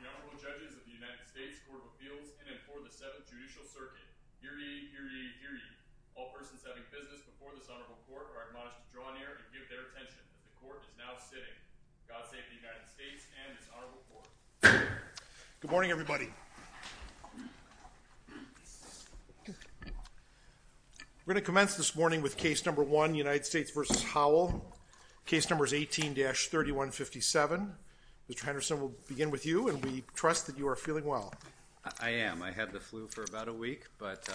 The Honorable Judges of the United States Court of Appeals in and for the Seventh Judicial Circuit. Hear ye, hear ye, hear ye. All persons having business before this Honorable Court are admonished to draw near and give their attention that the Court is now sitting, God save the United States and this Honorable Court. Good morning, everybody. We're going to commence this morning with case number one, United States v. Howell. Case number is 18-3157. Mr. Henderson, we'll begin with you, and we trust that you are feeling well. I am. I had the flu for about a week, but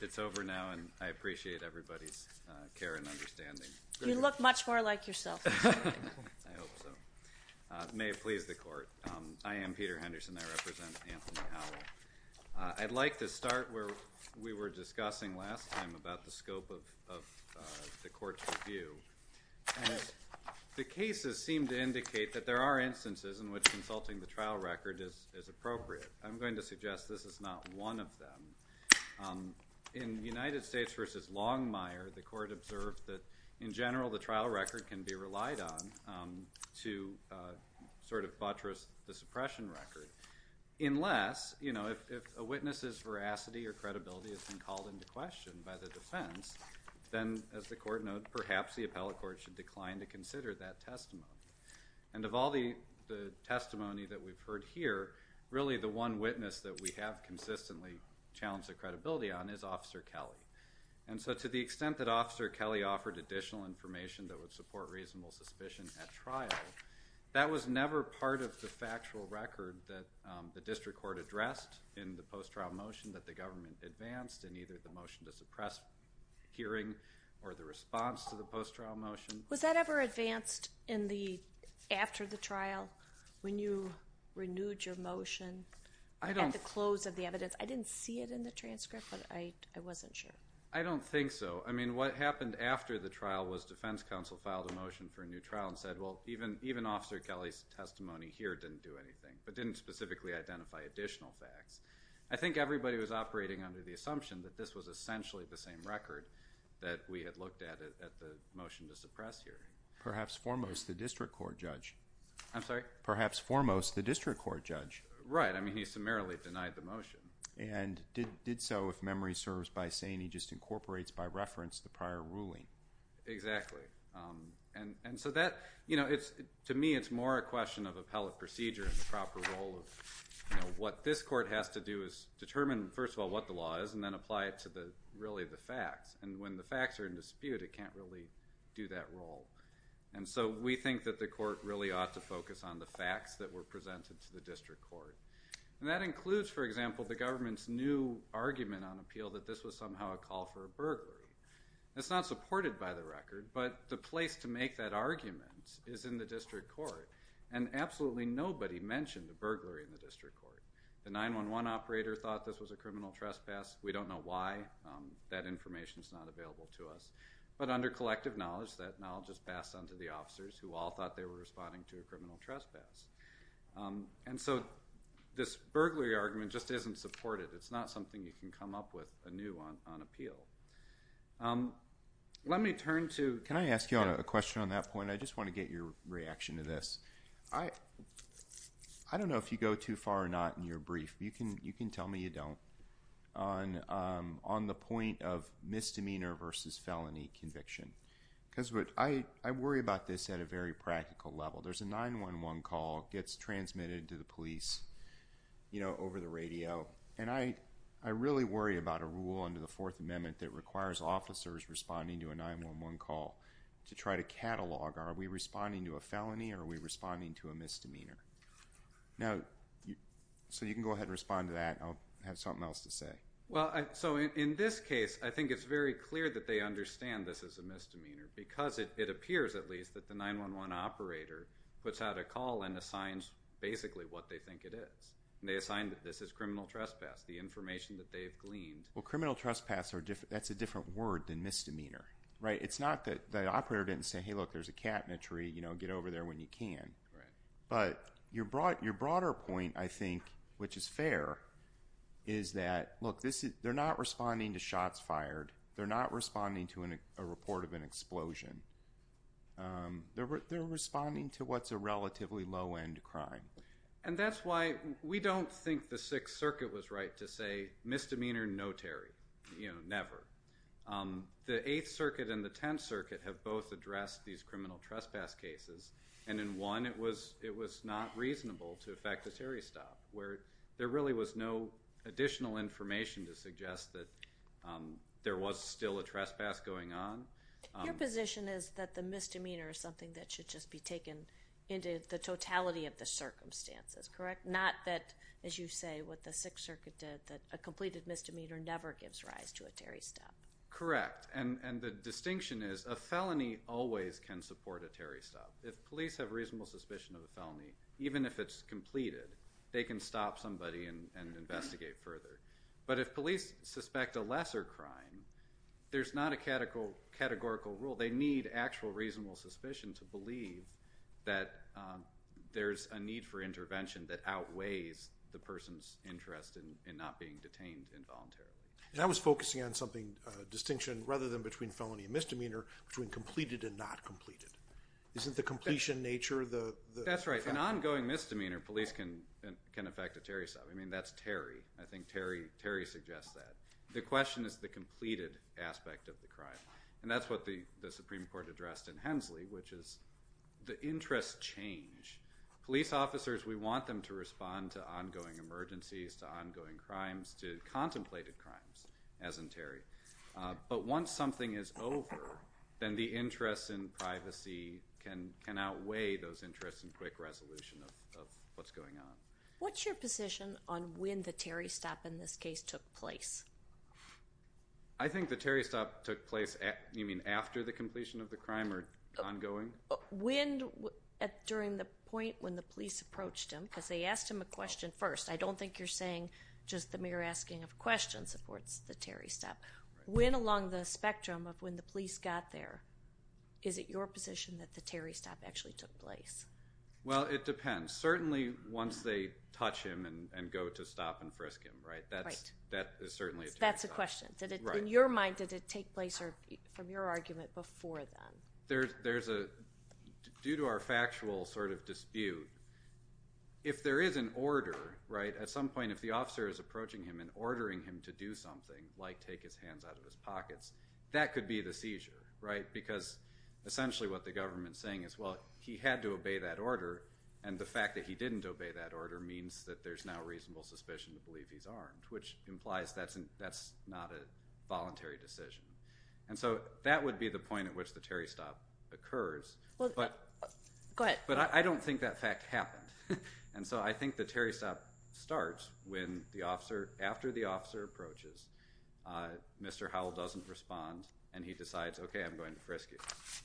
it's over now, and I appreciate everybody's care and understanding. You look much more like yourself this morning. I hope so. It may have pleased the Court. I am Peter Henderson. I represent Anthony Howell. I'd like to start where we were discussing last time about the scope of the Court's review. And the cases seem to indicate that there are instances in which consulting the trial record is appropriate. I'm going to suggest this is not one of them. In United States v. Longmire, the Court observed that, in general, the trial record can be relied on to sort of buttress the suppression record, unless, you know, if a witness's veracity or credibility has been called into question by the defense, then, as the Court noted, perhaps the appellate court should decline to consider that testimony. And of all the testimony that we've heard here, really the one witness that we have consistently challenged the credibility on is Officer Kelley. And so, to the extent that Officer Kelley offered additional information that would support reasonable suspicion at trial, that was never part of the factual record that the district court addressed in the post-trial motion that the government advanced in either the motion to suppress hearing or the response to the post-trial motion. Was that ever advanced in the, after the trial, when you renewed your motion at the close of the evidence? I didn't see it in the transcript, but I wasn't sure. I don't think so. I mean, what happened after the trial was defense counsel filed a motion for a new trial and said, well, even Officer Kelley's testimony here didn't do anything, but didn't specifically identify additional facts. I think everybody was operating under the assumption that this was essentially the same record that we had looked at at the motion to suppress hearing. Perhaps foremost, the district court judge. I'm sorry? Perhaps foremost, the district court judge. Right. I mean, he summarily denied the motion. And did so, if memory serves, by saying he just incorporates by reference the prior ruling. Exactly. And so that, you know, it's, to me, it's more a question of appellate procedure and the proper role of, you know, what this court has to do is determine, first of all, what the law is and then apply it to the, really, the facts. And when the facts are in dispute, it can't really do that role. And so, we think that the court really ought to focus on the facts that were presented to the district court. And that includes, for example, the government's new argument on appeal that this was somehow a call for a burglary. It's not supported by the record, but the place to make that argument is in the district court. And absolutely nobody mentioned the burglary in the district court. The 911 operator thought this was a criminal trespass. We don't know why. That information's not available to us. But under collective knowledge, that knowledge is passed on to the officers who all thought they were responding to a criminal trespass. And so, this burglary argument just isn't supported. It's not something you can come up with anew on appeal. Let me turn to... Can I ask you a question on that point? I just want to get your reaction to this. I don't know if you go too far or not in your brief. You can tell me you don't on the point of misdemeanor versus felony conviction. Because I worry about this at a very practical level. There's a 911 call gets transmitted to the police over the radio. And I really worry about a rule under the Fourth Amendment that requires officers responding to a 911 call to try to catalog are we responding to a felony or are we responding to a misdemeanor? So, you can go ahead and respond to that. I'll have something else to say. So, in this case, I think it's very clear that they understand this is a misdemeanor. Because it appears, at least, that the 911 operator puts out a call and assigns basically what they think it is. They assign that this is criminal trespass. The information that they've gleaned... Well, criminal trespass, that's a different word than misdemeanor. It's not that the operator didn't say, hey, look, there's a cabinetry, get over there when you can. But your broader point, I think, which is fair, is that, look, they're not responding to shots fired. They're not responding to a report of an explosion. They're responding to what's a relatively low-end crime. And that's why we don't think the Sixth Circuit was right to say, misdemeanor, no, Terry. You know, never. The Eighth Circuit and the Tenth Circuit have both addressed these criminal trespass cases. And in one, it was not reasonable to affect a Terry stop, where there really was no additional information to suggest that there was still a trespass going on. Your position is that the misdemeanor is something that should just be taken into the totality of the circumstances, correct? Not that, as you say, what the Sixth Circuit did, that a completed misdemeanor never gives rise to a Terry stop. Correct. And the distinction is, a felony always can support a Terry stop. If police have reasonable suspicion of a felony, even if it's completed, they can stop somebody and investigate further. But if police suspect a lesser crime, there's not a categorical rule. They need actual reasonable suspicion to believe that there's a need for intervention that outweighs the person's interest in not being detained involuntarily. And I was focusing on something, a distinction, rather than between felony and misdemeanor, between completed and not completed. Isn't the completion nature the... That's right. An ongoing misdemeanor, police can affect a Terry stop. I mean, that's Terry. I think Terry suggests that. The question is the completed aspect of the crime. And that's what the Supreme Court addressed in Hensley, which is the interests change. Police officers, we want them to respond to ongoing emergencies, to ongoing crimes, to contemplated crimes, as in Terry. But once something is over, then the interest in privacy can outweigh those interests in quick resolution of what's going on. What's your position on when the Terry stop in this case took place? I think the Terry stop took place after the completion of the crime or ongoing. When, during the point when the police approached him, because they asked him a question first. I don't think you're saying just the mere asking of questions supports the Terry stop. When along the spectrum of when the police got there, is it your position that the Terry stop actually took place? Well, it depends. Certainly once they touch him and go to stop and frisk him. That's a question. In your mind, did it take place from your argument before then? Due to our factual dispute, if there is an order, at some point if the officer is approaching him and ordering him to do something, like take his hands out of his pockets, that could be the seizure. Because essentially what the government is saying is, he had to obey that order and the fact that he didn't obey that order means that there's now reasonable suspicion to believe he's armed. Which implies that's not a voluntary decision. So that would be the point at which the Terry stop occurs. Go ahead. But I don't think that fact happened. So I think the Terry stop starts when the officer, after the officer approaches, Mr. Howell doesn't respond and he decides, okay, I'm going to frisk you.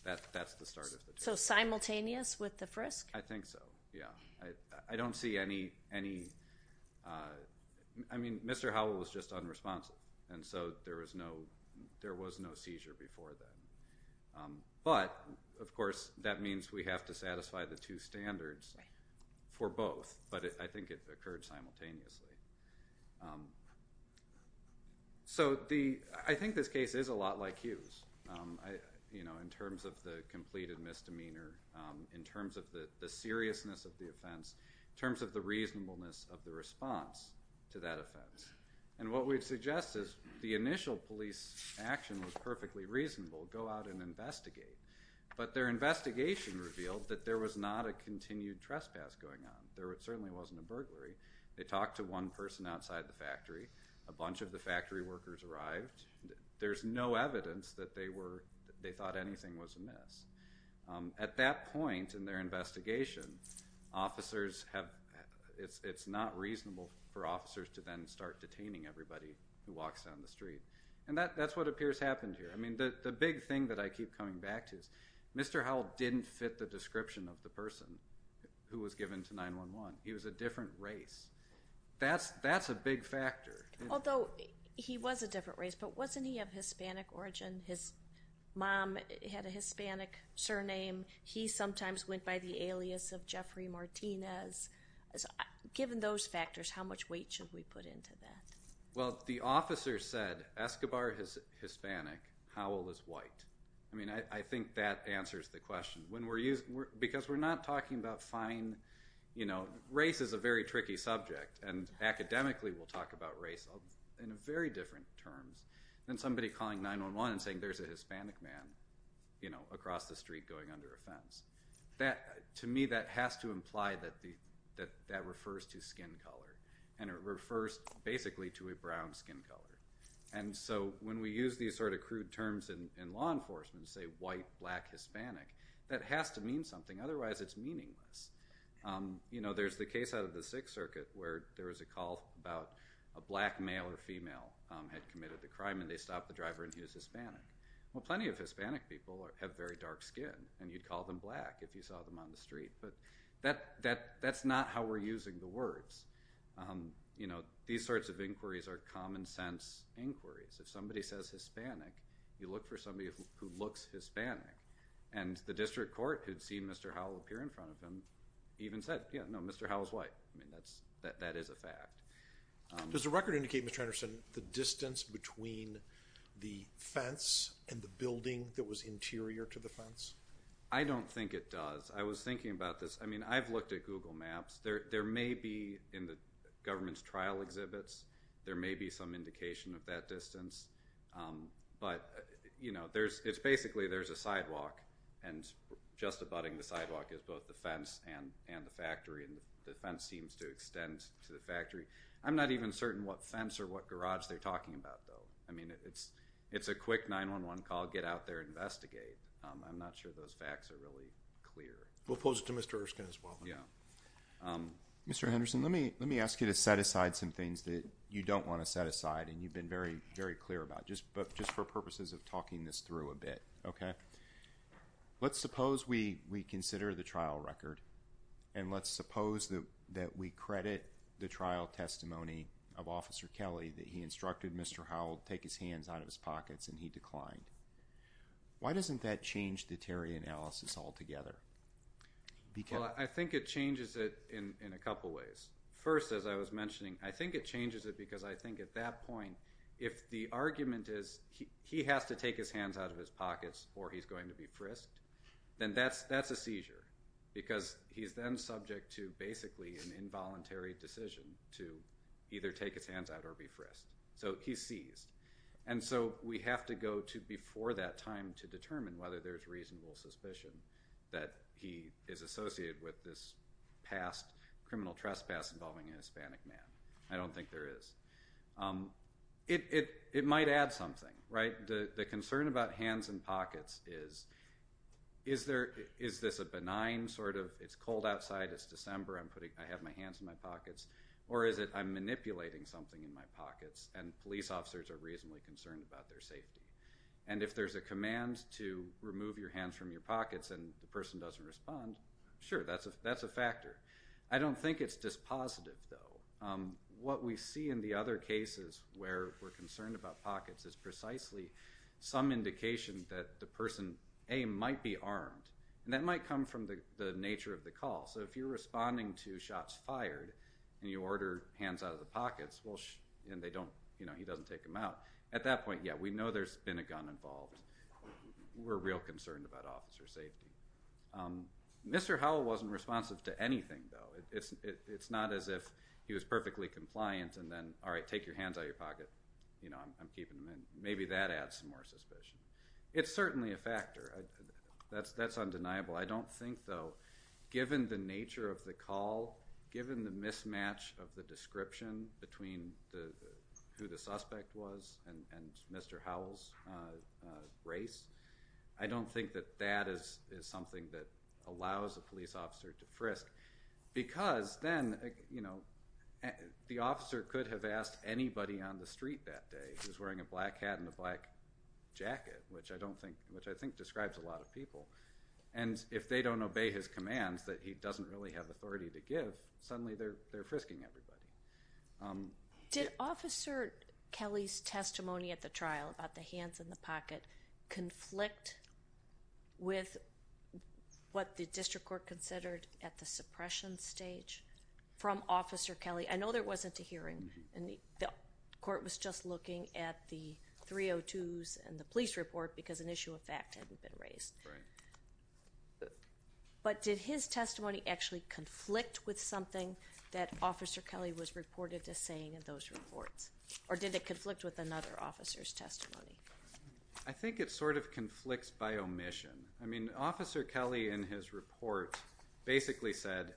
That's the start of it. So simultaneous with the frisk? I think so, yeah. I don't see any... I mean, Mr. Howell was just unresponsive. And so there was no seizure before then. But, of course, that means we have to satisfy the two standards for both. But I think it occurred simultaneously. So I think this case is a lot like Hughes. In terms of the completed misdemeanor. In terms of the seriousness of the offense. In terms of the reasonableness of the response to that offense. And what we'd suggest is the initial police action was perfectly reasonable. Go out and investigate. But their investigation revealed that there was not a continued trespass going on. There certainly wasn't a burglary. They talked to one person outside the factory. A bunch of the factory workers arrived. There's no evidence that they thought anything was amiss. At that point in their investigation, officers have... It's not reasonable for officers to then start detaining everybody who walks down the street. And that's what appears to have happened here. I mean, the big thing that I keep coming back to is Mr. Howell didn't fit the description of the person who was given to 911. He was a different race. That's a big factor. Although he was a different race. But wasn't he of Hispanic origin? His mom had a Hispanic surname. He sometimes went by the alias of Jeffrey Martinez. Given those factors, how much weight should we put into that? Well, the officer said, Escobar is Hispanic. Howell is white. I mean, I think that answers the question. Because we're not talking about fine... Race is a very tricky subject. And academically, we'll talk about race in very different terms than somebody calling 911 and saying there's a Hispanic man across the street going under a fence. To me, that has to imply that that refers to skin color. And it refers, basically, to a brown skin color. And so when we use these sort of crude terms in law enforcement, and say white, black, Hispanic, that has to mean something. Otherwise, it's meaningless. There's the case out of the Sixth Circuit where there was a call about a black male or female had committed the crime and they stopped the driver and he was Hispanic. Well, plenty of Hispanic people have very dark skin. And you'd call them black if you saw them on the street. But that's not how we're using the words. These sorts of inquiries are common-sense inquiries. If somebody says Hispanic, you look for somebody who looks Hispanic. And the district court, who'd seen Mr. Howell appear in front of him, even said, yeah, no, Mr. Howell's white. I mean, that is a fact. Does the record indicate, Mr. Anderson, the distance between the fence and the building that was interior to the fence? I don't think it does. I was thinking about this. I mean, I've looked at Google Maps. There may be, in the government's trial exhibits, there may be some indication of that distance. But, you know, it's basically there's a sidewalk and just abutting the sidewalk is both the fence and the factory. And the fence seems to extend to the factory. I'm not even certain what fence or what garage they're talking about, though. I mean, it's a quick 911 call. Get out there. Investigate. I'm not sure those facts are really clear. We'll pose it to Mr. Erskine as well. Mr. Anderson, let me ask you to set aside some things that you don't want to set aside. And you've been very, very clear about. Just for purposes of talking this through a bit. Okay? Let's suppose we consider the trial record. And let's suppose that we credit the trial testimony of Officer Kelly that he instructed Mr. Howell take his hands out of his pockets and he declined. Why doesn't that change the Terry analysis altogether? Well, I think it changes it in a couple ways. First, as I was mentioning, I think it changes it because I think at that point, if the argument is he has to take his hands out of his pockets or he's going to be frisked, then that's a seizure. Because he's then subject to basically an involuntary decision to either take his hands out or be frisked. So he's seized. And so we have to go to before that time to determine whether there's reasonable suspicion that he is associated with this past criminal trespass involving a Hispanic man. I don't think there is. It might add something, right? The concern about hands in pockets is, is this a benign sort of, it's cold outside, it's December, I have my hands in my pockets. Or is it I'm manipulating something in my pockets and police officers are reasonably concerned about their safety. And if there's a command to remove your hands from your pockets and the person doesn't respond, sure, that's a factor. I don't think it's dispositive, though. What we see in the other cases where we're concerned about pockets is precisely some indication that the person, A, might be armed. And that might come from the nature of the call. So if you're responding to shots fired and you order hands out of the pockets, and he doesn't take them out, at that point, yeah, we know there's been a gun involved. We're real concerned about officer safety. Mr. Howell wasn't responsive to anything, though. It's not as if he was perfectly compliant and then, all right, take your hands out of your pocket. I'm keeping them in. Maybe that adds some more suspicion. It's certainly a factor. That's undeniable. I don't think, though, given the nature of the call, given the mismatch of the description between who the suspect was and Mr. Howell's race, I don't think that that is something that allows a police officer to frisk. Because then the officer could have asked anybody on the street that day who's wearing a black hat and a black jacket, which I think describes a lot of people. And if they don't obey his commands that he doesn't really have authority to give, suddenly they're frisking everybody. Did Officer Kelly's testimony at the trial about the hands in the pocket conflict with what the district court considered at the suppression stage from Officer Kelly? I know there wasn't a hearing. The court was just looking at the 302s and the police report because an issue of fact hadn't been raised. Right. But did his testimony actually conflict with something that Officer Kelly was reported as saying in those reports? Or did it conflict with another officer's testimony? I think it sort of conflicts by omission. I mean, Officer Kelly in his report basically said,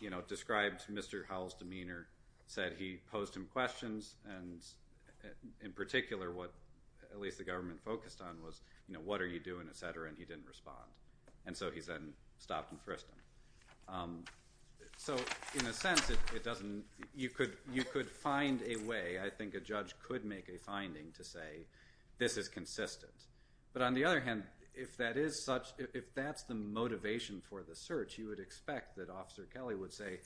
you know, described Mr. Howell's demeanor, said he posed him questions and in particular what at least the government focused on was, you know, what are you doing, et cetera, and he didn't respond. And so he then stopped and frisked him. So in a sense it doesn't you could find a way, I think a judge could make a finding to say, this is consistent. But on the other hand, if that is such if that's the motivation for the search, you would expect that Officer Kelly would say,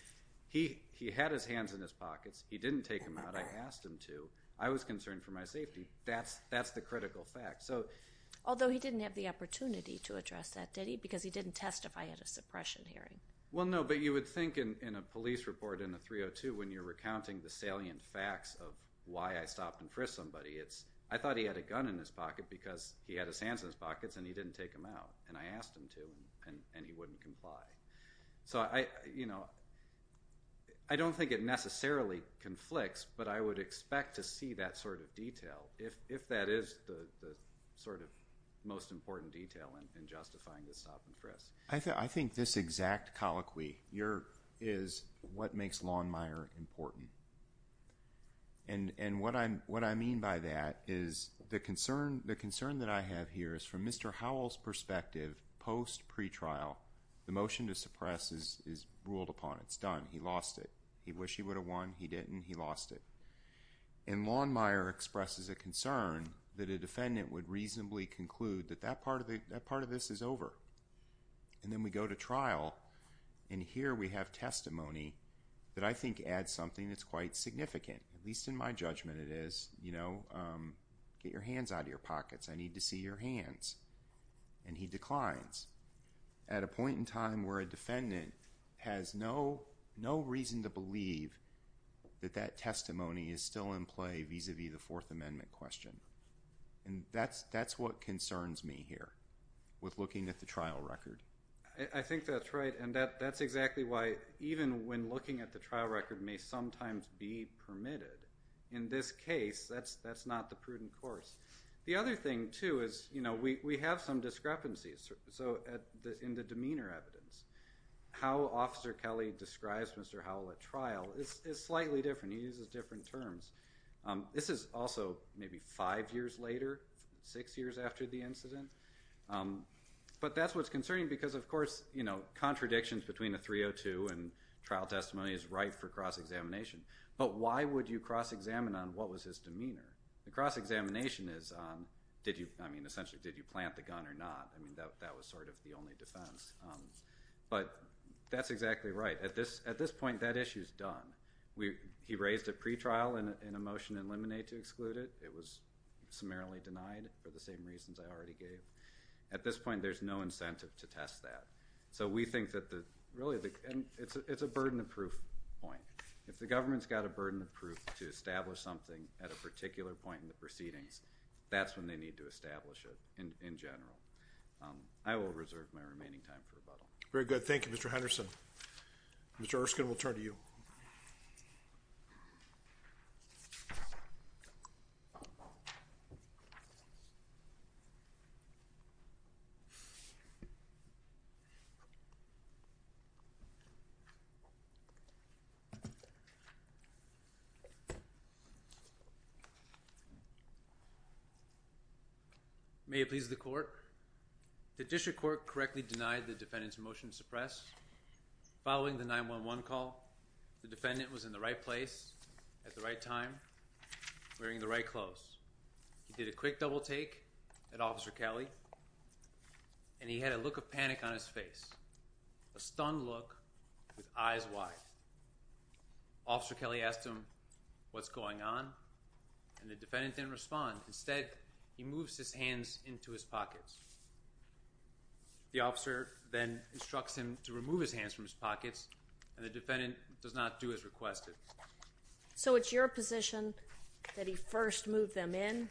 he had his hands in his pockets. He didn't take them out. I asked him to. I was concerned for my safety. That's the critical fact. Although he didn't have the opportunity to address that, did he? Because he didn't testify at a suppression hearing. Well, no, but you would think in a police report in a 302 when you're recounting the salient facts of why I stopped and frisked somebody it's, I thought he had a gun in his pocket because he had his hands in his pockets and he didn't take them out. And I asked him to and he wouldn't comply. So, you know, I don't think it necessarily conflicts, but I would expect to see that sort of detail if that is the sort of most important detail in justifying the stop and frisk. I think this exact colloquy is what makes Lawnmire important. And what I mean by that is the concern that I have here is from Mr. Howell's perspective, post pretrial the motion to suppress is ruled upon. It's done. He lost it. He wished he would have won. He didn't. He lost it. And Lawnmire expresses a concern that a defendant would reasonably conclude that that part of this is over. And then we go to trial and here we have testimony that I think adds something that's quite significant. At least in my judgment it is, you know, get your hands out of your pockets. I need to see your hands. And he declines at a point in time where a defendant has no reason to believe that that testimony is still in play vis-a-vis the Fourth Amendment question. And that's what concerns me here with looking at the trial record. I think that's right and that's exactly why even when looking at the trial record may sometimes be permitted in this case that's not the prudent course. The other thing too is, you know, we have some discrepancies in the demeanor evidence. How Officer Kelly describes Mr. Howell at trial is slightly different. He uses different terms. This is also maybe five years later, six years after the incident. But that's what's concerning because of course, you know, contradictions between the 302 and trial testimony is right for cross-examination. But why would you cross-examine on what was his demeanor? The cross-examination is essentially did you plant the gun or not? That was sort of the only defense. But that's exactly right. At this point, that issue is done. He raised a pretrial and a motion to eliminate to exclude it. It was summarily denied for the same reasons I already gave. At this point, there's no incentive to test that. So we think that really it's a burden of proof point. If the government's got a burden of proof to establish something at a particular point in the proceedings, that's when they need to establish it in general. I will reserve my remaining time for rebuttal. Very good. Thank you, Mr. Henderson. Mr. Erskine, we'll turn to you. May it please the court. The district court correctly denied the defendant's motion to suppress. Following the 911 call, the defendant was in the right place at the right time, wearing the right clothes. He did a quick double take at Officer Kelly and he had a look of panic on his face. A stunned look with eyes wide. Officer Kelly asked him what's going on and the defendant didn't respond. Instead, he moves his hands into his pockets. The officer then instructs him to remove his hands from his pockets and the defendant does not do as requested. So it's your position that he first moved them in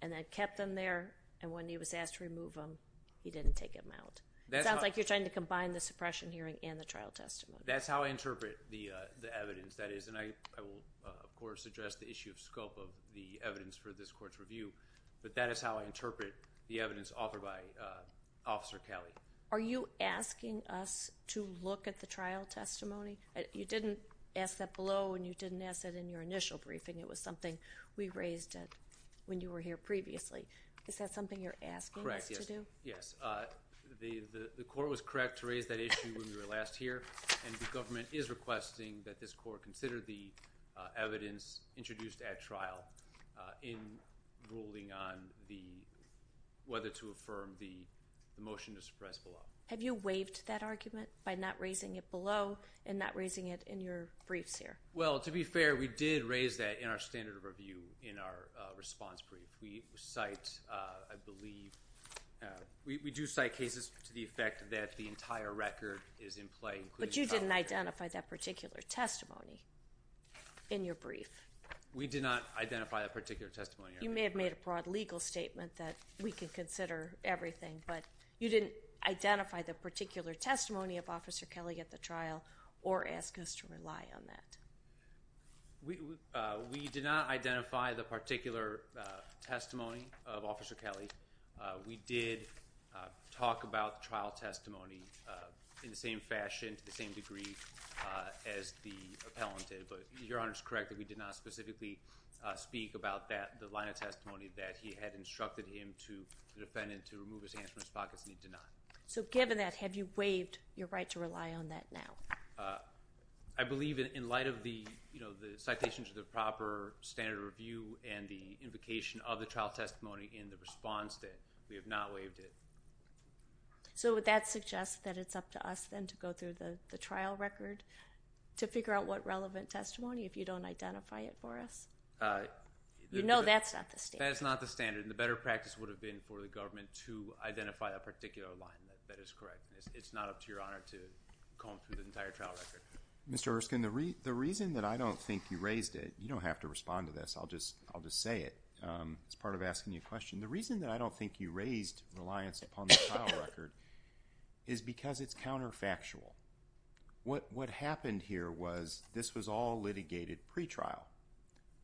and then kept them there and when he was asked to remove them, he didn't take them out. It sounds like you're trying to combine the suppression hearing and the trial testimony. That's how I interpret the evidence. That is, and I will of course address the issue of scope of the evidence for this court's review, but that is how I interpret the evidence offered by Officer Kelly. Are you asking us to look at the trial testimony? You didn't ask that below and you didn't ask that in your initial briefing. It was something we raised when you were here previously. Is that something you're asking us to do? Correct, yes. The court was correct to raise that issue when we were last here and the government is requesting that this court consider the evidence introduced at trial in ruling on whether to affirm the motion to suppress below. Have you waived that argument by not raising it below and not raising it in your briefs here? Well, to be fair, we did raise that in our standard of review in our response brief. We cite, I believe, we do cite cases to the effect that the entire record is in play. But you didn't identify that particular testimony in your brief. We did not identify that particular testimony. You may have made a broad legal statement that we could consider everything, but you didn't identify the particular testimony of Officer Kelly at the trial or ask us to rely on that. We did not identify the particular testimony of Officer Kelly. We did talk about the trial testimony in the same fashion, to the same degree as the appellant did. But Your Honor is correct that we did not specifically speak about that, the line of testimony that he had instructed him to, the defendant, to remove his hands from his pockets, and he did not. So given that, have you waived your right to rely on that now? I believe in light of the citation to the proper standard of review and the invocation of the trial testimony in the response that we have not waived it. So would that suggest that it's up to us then to go through the trial record to figure out what relevant testimony if you don't identify it for us? You know that's not the standard. That's not the standard, and the better practice would have been for the government to identify a particular line that is correct. It's not up to Your Honor to comb through the entire trial record. Mr. Erskine, the reason that I don't think you raised it, you don't have to respond to this, I'll just say it as part of asking you a question. The reason that I don't think you raised reliance upon the trial record is because it's counterfactual. What happened here was this was all a litigated pretrial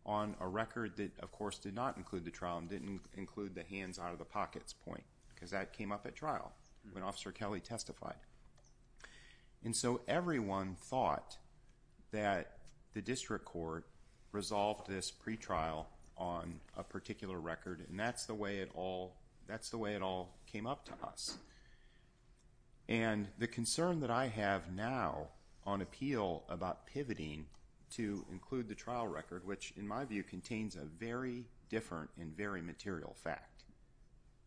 on a record that of course did not include the trial and didn't include the hands out of the pockets point because that came up at trial when Officer Kelly testified. And so everyone thought that the district court resolved this pretrial on a particular record and that's the way it all came up to us. And the concern that I have now on appeal about pivoting to include the trial record, which in my view contains a very different and very material fact,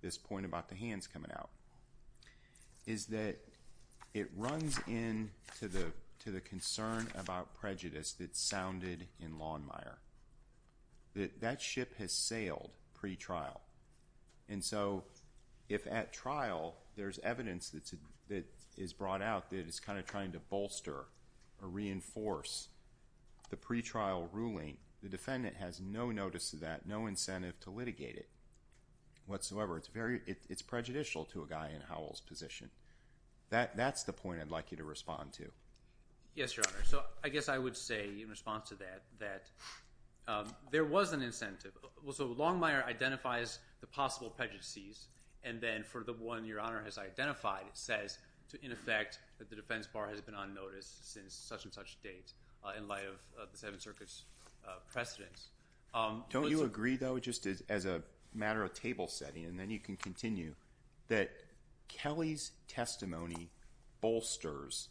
this point about the hands coming out, is that it runs into the concern about prejudice that sounded in Lawnmire. That ship has sailed pretrial. And so if at trial there's evidence that is brought out that is kind of trying to bolster or reinforce the pretrial ruling, the defendant has no notice of that, no incentive to litigate it whatsoever. It's prejudicial to a guy in Howell's position. That's the point I'd like you to respond to. Yes, Your Honor. So I guess I would say in response to that that there was an incentive. So Lawnmire identifies the possible prejudices and then for the one Your Honor has identified says in effect that the defense bar has been on notice since such and such date in light of the Seventh Circuit's precedence. Don't you agree though, just as a matter of table setting and then you can continue, that Kelly's testimony bolsters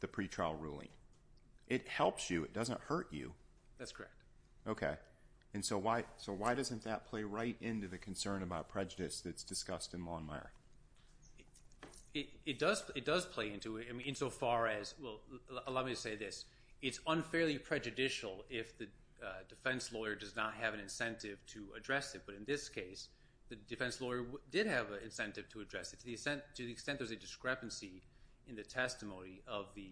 the pretrial ruling? It helps you. It doesn't hurt you. That's correct. Okay. And so why doesn't that play right into the concern about prejudice that's discussed in Lawnmire? It does play into it insofar as, well, allow me to say this. It's unfairly prejudicial if the defense lawyer does not have an incentive to address it. But in this case, the defense lawyer did have an incentive to address it. To the extent there's a discrepancy in the testimony of the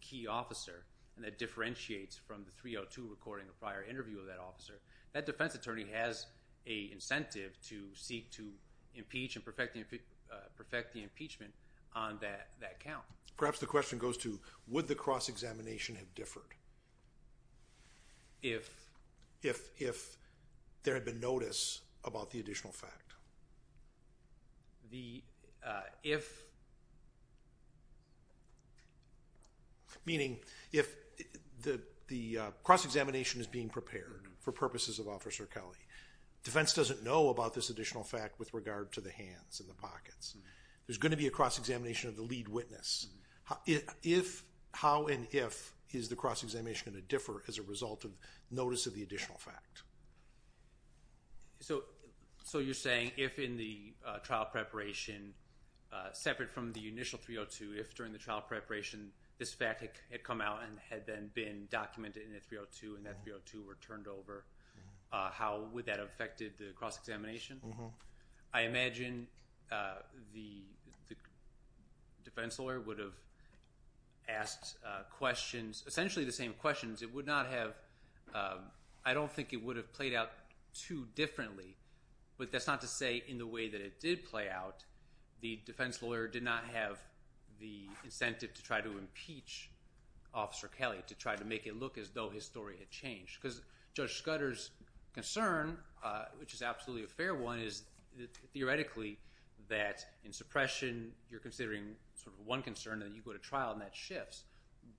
key officer, and that differentiates from the 302 recording of prior interview of that officer, that defense attorney has an incentive to seek to impeach and perfect the impeachment on that count. Perhaps the question goes to, would the cross-examination have differed? If? If there had been notice about the additional fact. If? Meaning if the cross-examination is being prepared for purposes of Officer Kelly. Defense doesn't know about this additional fact with regard to the hands and the pockets. There's going to be a cross-examination of the lead witness. How and if is the cross-examination going to differ as a result of notice of the additional fact? So you're saying if in the trial preparation, separate from the initial 302, if during the trial preparation this fact had come out and had then been documented in the 302, and that 302 were turned over, how would that have affected the cross-examination? I imagine the defense lawyer would have asked questions, essentially the same questions. It would not have, I don't think it would have played out too differently, but that's not to say in the way that it did play out, the defense lawyer did not have the incentive to try to impeach Officer Kelly, to try to make it look as though his story had changed. Because Judge Scudder's concern, which is absolutely a fair one, is theoretically that in suppression you're considering sort of one concern and you go to trial and that shifts,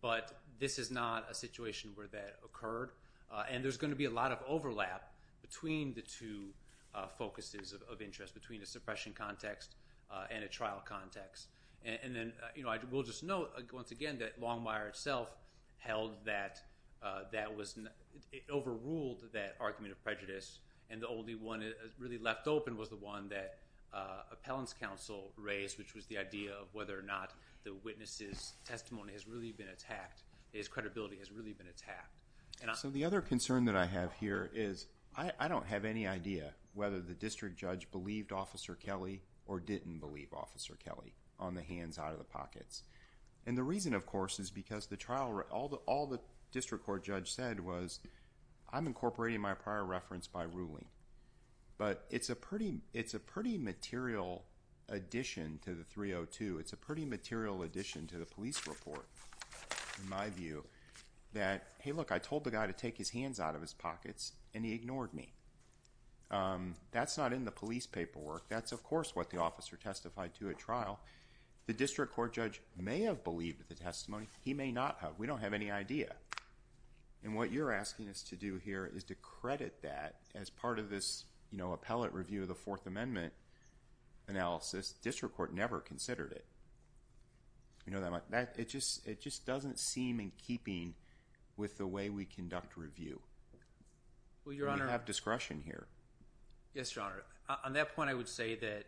but this is not a situation where that occurred. And there's going to be a lot of overlap between the two focuses of interest, between a suppression context and a trial context. And then I will just note once again that Longmire itself held that that was, it overruled that argument of prejudice and the only one that really left open was the one that Appellant's counsel raised, which was the idea of whether or not the witness' testimony has really been attacked, his credibility has really been attacked. So the other concern that I have here is, I don't have any idea whether the district judge believed Officer Kelly or didn't believe Officer Kelly on the hands out of the pockets. And the reason, of course, is because the trial all the district court judge said was, I'm incorporating my prior reference by ruling. But it's a pretty material addition to the 302, it's a pretty material addition to the police report, in my view, that, hey look, I told the guy to take his hands out of his pockets and he ignored me. That's not in the police paperwork, that's of course what the officer testified to at trial. The district court judge may have believed the testimony, he may not have. We don't have any idea. And what you're asking us to do here is to credit that as part of this appellate review of the Fourth Amendment analysis, district court never considered it. It just doesn't seem in keeping with the way we conduct review. We have discretion here. Yes, Your Honor. On that point I would say that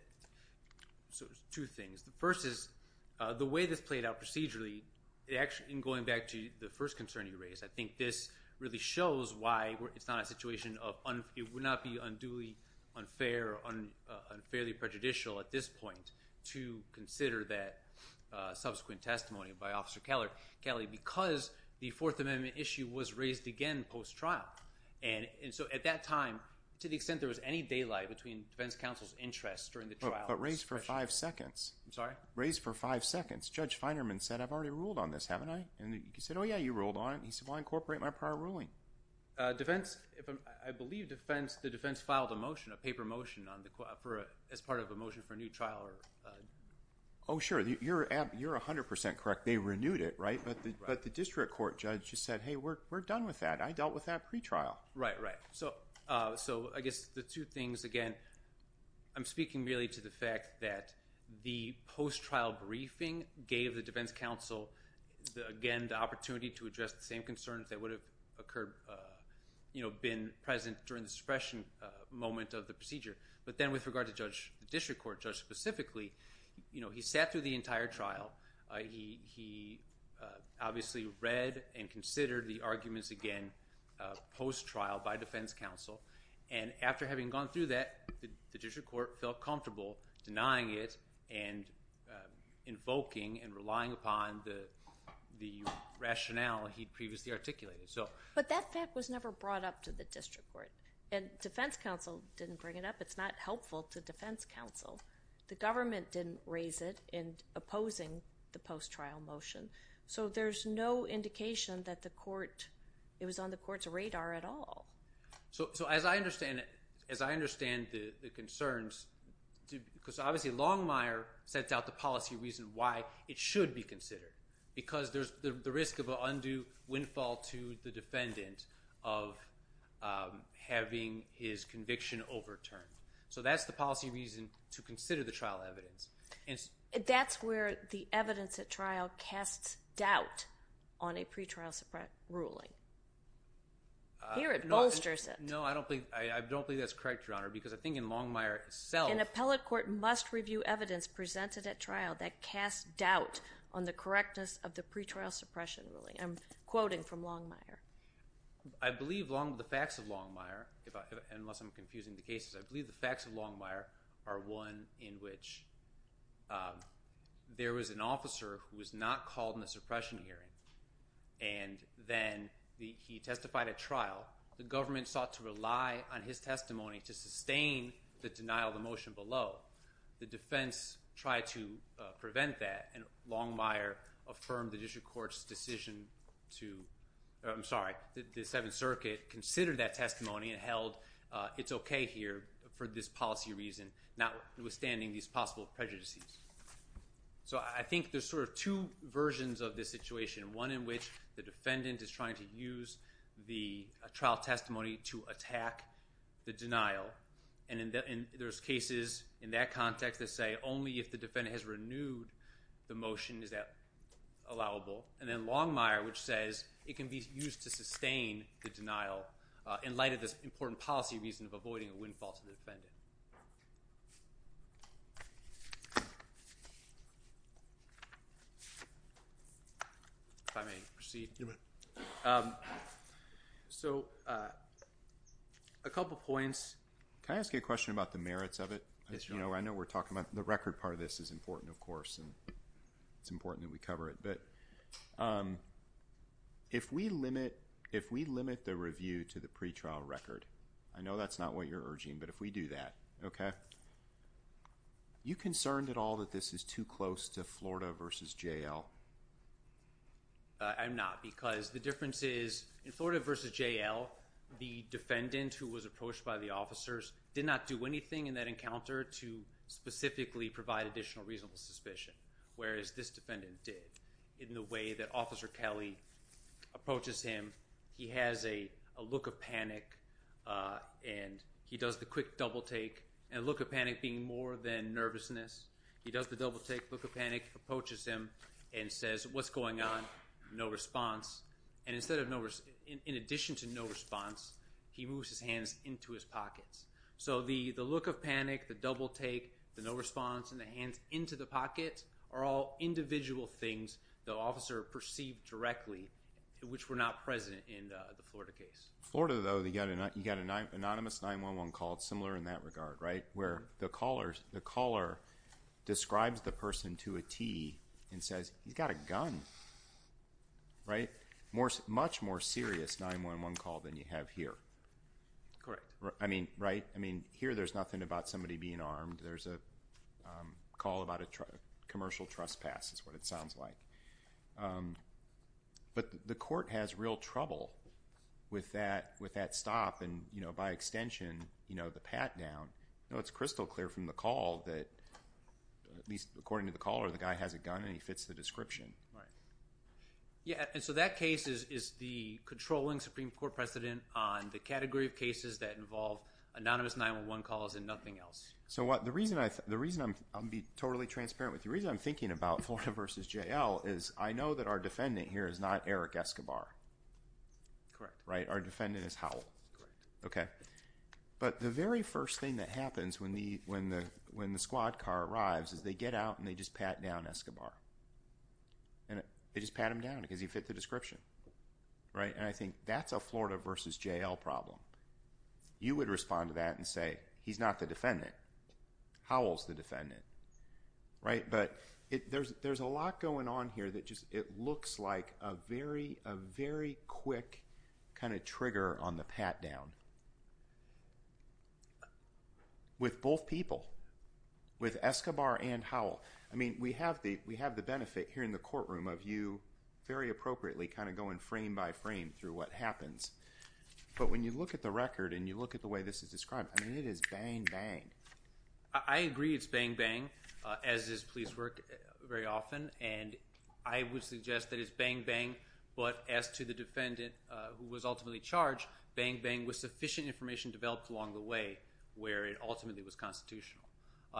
two things. The first is, the way this played out procedurally in going back to the first concern you raised, I think this really shows why it's not a situation of, it would not be unduly unfair or unfairly prejudicial at this point to consider that subsequent testimony by Officer Kelly because the Fourth Amendment issue was raised again post-trial. And so at that time, to the extent there was any daylight between defense counsel's interest during the trial. But raised for five seconds. I'm sorry? Raised for five seconds. Judge Feinerman said, I've already ruled on this, haven't I? He said, oh yeah, you ruled on it. He said, well, I'll incorporate my prior ruling. I believe the defense filed a motion, a paper motion as part of a motion for a new trial. Oh sure, you're 100% correct. They renewed it, right? But the district court judge just said, hey, we're done with that. I dealt with that pretrial. So I guess the two things, again, I'm speaking really to the fact that the post-trial briefing gave the defense counsel again the opportunity to address the same concerns that would have occurred, been present during the suppression moment of the procedure. But then with regard to Judge, the district court judge specifically, he sat through the entire trial. He obviously read and considered the arguments again post-trial by defense counsel. And after having gone through that, the district court felt comfortable denying it and invoking and relying upon the rationale he'd previously articulated. But that fact was never brought up to the district court. And defense counsel didn't bring it up. It's not helpful to defense counsel. The government didn't raise it in opposing the post-trial motion. So there's no indication that the court, it was on the court's radar at all. So as I understand the concerns, because obviously Longmire sets out the policy reason why it should be considered. Because there's the risk of an undue windfall to the defendant of having his conviction overturned. So that's the policy reason to consider the trial evidence. That's where the evidence at trial casts doubt on a pretrial suppression ruling. Here it bolsters it. No, I don't believe that's correct, Your Honor, because I think in Longmire itself... An appellate court must review evidence presented at trial that casts doubt on the correctness of the pretrial suppression ruling. I'm quoting from Longmire. I believe the facts of Longmire, unless I'm confusing the cases, I believe the facts of Longmire are one in which there was an officer who was not called in the suppression hearing and then he testified at trial. The government sought to rely on his testimony to sustain the denial of the motion below. The defense tried to prevent that and Longmire affirmed the district court's decision to... I'm sorry, the Seventh Circuit considered that testimony and held it's okay here for this policy reason notwithstanding these possible prejudices. So I think there's sort of two versions of this situation. One in which the defendant is trying to use the trial testimony to attack the denial and there's cases in that context that say only if the defendant has renewed the motion is that allowable. And then Longmire which says it can be used to sustain the denial in light of this important policy reason of avoiding a windfall to the defendant. If I may proceed. So a couple points. Can I ask you a question about the merits of it? I know we're talking about the record part of this is important of course and it's important that we cover it. But if we limit the review to the pretrial record, I know that's not what you're urging but if we do that, okay? Are you concerned at all that this is too close to Florida v. J.L.? I'm not because the difference is in Florida v. J.L. the defendant who was approached by the officers did not do anything in that encounter to specifically provide additional reasonable suspicion whereas this defendant did. In the way that Officer Kelly approaches him, he has a look of panic and he does the quick double take and look of panic being more than nervousness. He does the double take, look of panic, approaches him and says what's going on? No response. In addition to no response, he moves his hands into his pockets. So the look of panic, the double take, the no response and the hands into the pocket are all individual things the officer perceived directly which were not present in the Florida case. Florida though, you got an anonymous 9-1-1 call similar in that regard, right? Where the caller describes the person to a T and says he's got a gun. Right? Much more serious 9-1-1 call than you have here. Correct. I mean, right? I mean here there's nothing about somebody being armed. There's a call about a commercial trespass is what it sounds like. But the court has real trouble with that stop and by extension, the pat down. It's crystal clear from the call that, at least according to the caller, the guy has a gun and he fits the description. Right. Yeah, and so that case is the controlling Supreme Court precedent on the category of cases that involve anonymous 9-1-1 calls and nothing else. So the reason I'll be totally transparent with you, the reason I'm thinking about Florida versus J.L. is I know that our defendant here is not Eric Escobar. Correct. Right? Our defendant is Howell. Correct. Okay. But the very first thing that happens when the squad car arrives is they get out and they just pat down Escobar. They just pat him down because he fit the description. Right? And I think that's a Florida versus J.L. problem. You would respond to that and say he's not the defendant. Right? But there's a lot going on here that it looks like a very quick kind of trigger on the pat down. With both people. With Escobar and Howell. I mean, we have the benefit here in the courtroom of you very appropriately kind of going frame by frame through what happens. But when you look at the record and you look at the way this is described, I mean, it is bang, bang. I agree it's bang, bang, as is police work very often. And I would suggest that it's bang, bang, but as to the defendant who was ultimately charged, bang, bang was sufficient information developed along the way where it ultimately was constitutional.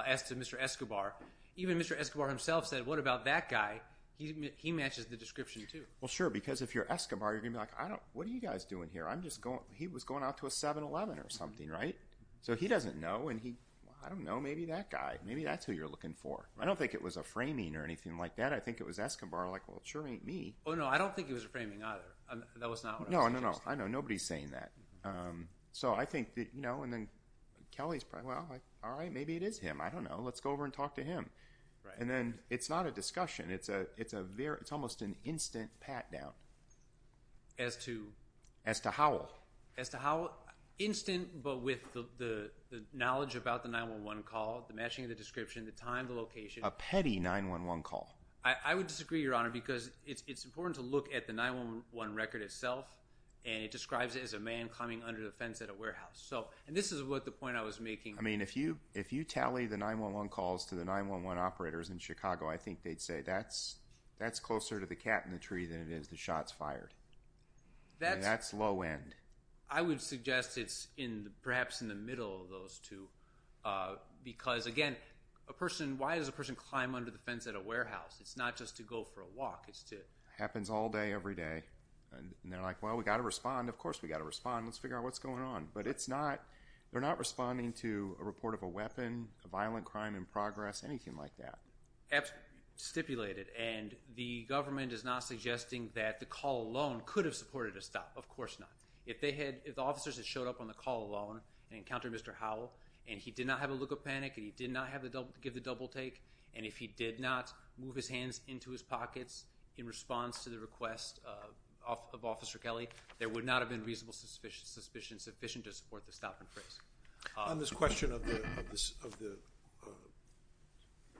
As to Mr. Escobar, even Mr. Escobar himself said, what about that guy? He matches the description too. Well, sure. Because if you're Escobar, you're going to be like what are you guys doing here? He was going out to a 7-Eleven or something. Right? So he doesn't know and he, I don't know, maybe that guy. Maybe that's who you're looking for. I don't think it was a framing or anything like that. I think it was Escobar like well, it sure ain't me. Oh, no. I don't think it was a framing either. That was not what I was interested in. I know. Nobody's saying that. So I think that, you know, and then Kelly's probably, well, all right, maybe it is him. I don't know. Let's go over and talk to him. And then it's not a discussion. It's a very, it's almost an instant pat down. As to? As to Howell. Instant, but with the knowledge about the 9-1-1 call, the matching of the description, the time, the location. A petty 9-1-1 call. I would disagree, Your Honor, because it's important to look at the 9-1-1 record itself and it describes it as a man climbing under the fence at a warehouse. So, and this is what the point I was making. I mean, if you, if you tally the 9-1-1 calls to the 9-1-1 operators in Chicago, I think they'd say that's closer to the cat in the tree than it is the shots fired. That's low end. I would suggest it's in, perhaps in the middle of those two because, again, a person, why does a person climb under the fence at a warehouse? It's not just to go for a walk. It's to. Happens all day, every day. And they're like, well, we've got to respond. Of course we've got to respond. Let's figure out what's going on. But it's not, they're not responding to a report of a weapon, a violent crime in progress, anything like that. Absolutely. Stipulated. And the government is not suggesting that the call alone could have supported a stop. Of course not. If they had, if the officers had showed up on the call alone and encountered Mr. Howell and he did not have a look of panic and he did not give the double take and if he did not move his hands into his pockets in response to the request of Officer Kelly, there would not have been reasonable suspicion sufficient to support the stop and freeze. On this question of the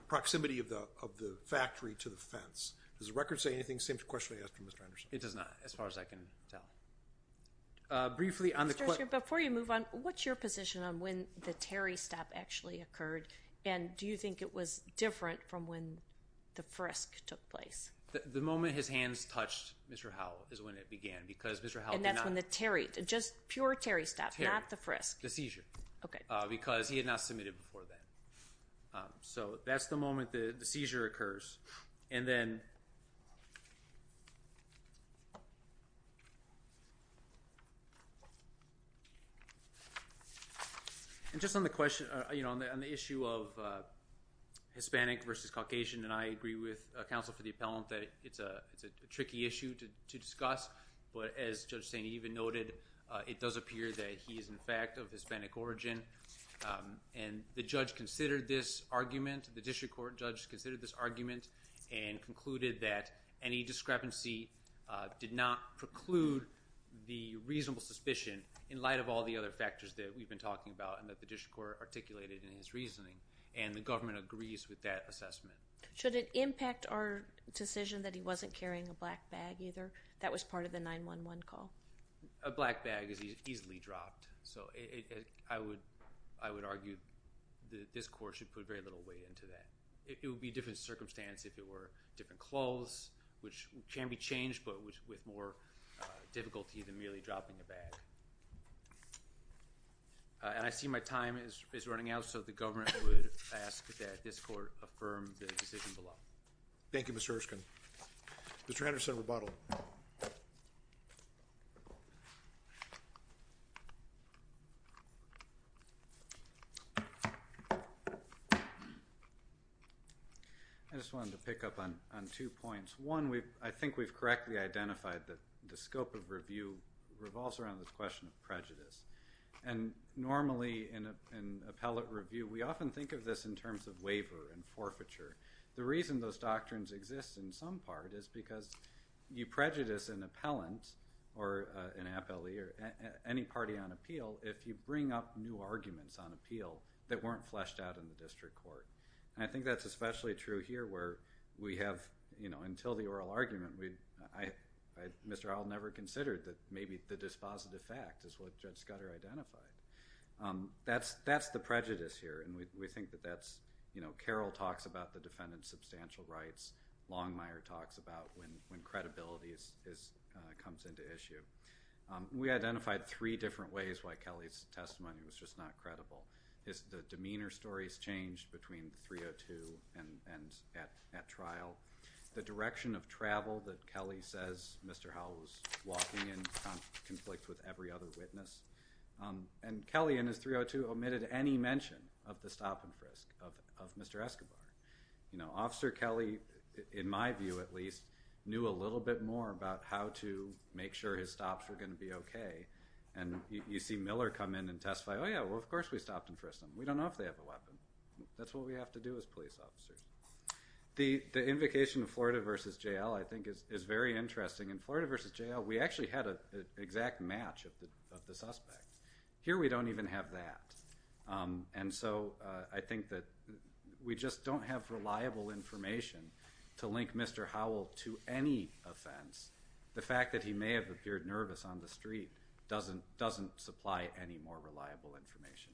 proximity of the factory to the fence, does the record say anything? Same question I asked from Mr. Anderson. It does not. As far as I can tell. Briefly on the question. Before you move on, what's your position on when the Terry stop actually occurred and do you think it was different from when the frisk took place? The moment his hands touched Mr. Howell is when it began because Mr. Howell did not. And that's when the Terry, just pure Terry stop, not the frisk. The seizure. Because he had not submitted before then. So that's the moment the seizure occurs. And then And just on the question on the issue of Hispanic versus Caucasian and I agree with counsel for the appellant that it's a tricky issue to discuss. But as Judge Staney even noted, it does appear that he is in fact of Hispanic origin. And the judge considered this argument. The district court judge considered this argument and concluded that any discrepancy did not preclude the reasonable suspicion in light of all the other factors that we've been talking about and that the district court articulated in his reasoning. And the government agrees with that assessment. Should it impact our decision that he wasn't carrying a black bag either? That was part of the 911 call. A black bag is easily dropped. So I would argue that this court should put very little weight into that. It would be different circumstance if it were different clothes, which can be changed but with more difficulty than merely dropping a bag. And I see my time is running out. So the government would ask that this court affirm the decision below. Thank you, Mr. Erskine. Mr. Henderson, rebuttal. I just wanted to pick up on two points. One, I think we've correctly identified that the scope of review revolves around this question of prejudice. And normally in appellate review, we often think of this in terms of waiver and forfeiture. The reason those doctrines exist in some part is because you prejudice an appellant or an appellee or any party on appeal if you will that weren't fleshed out in the district court. And I think that's especially true here where we have until the oral argument, Mr. Howell never considered that maybe the dispositive fact is what Judge Scudder identified. That's the prejudice here and we think that that's... Carroll talks about the defendant's substantial rights. Longmire talks about when credibility comes into issue. We identified three different ways why Kelly's not credible. The demeanor stories changed between 302 and at trial. The direction of travel that Kelly says Mr. Howell was walking in conflict with every other witness. And Kelly in his 302 omitted any mention of the stop and frisk of Mr. Escobar. Officer Kelly, in my view at least, knew a little bit more about how to make sure his stops were going to be okay. And you see Miller come in and testify, oh yeah, well of course we stopped and frisked them. We don't know if they have a weapon. That's what we have to do as police officers. The invocation of Florida v. J.L. I think is very interesting. In Florida v. J.L. we actually had an exact match of the suspect. Here we don't even have that. And so I think that we just don't have reliable information to link Mr. Howell to any offense. The fact that he may have appeared nervous on the street doesn't supply any more reliable information.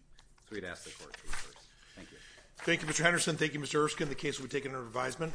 So we'd ask the court to reverse. Thank you. Thank you Mr. Henderson. Thank you Mr. Erskine. The case will be taken under revisement.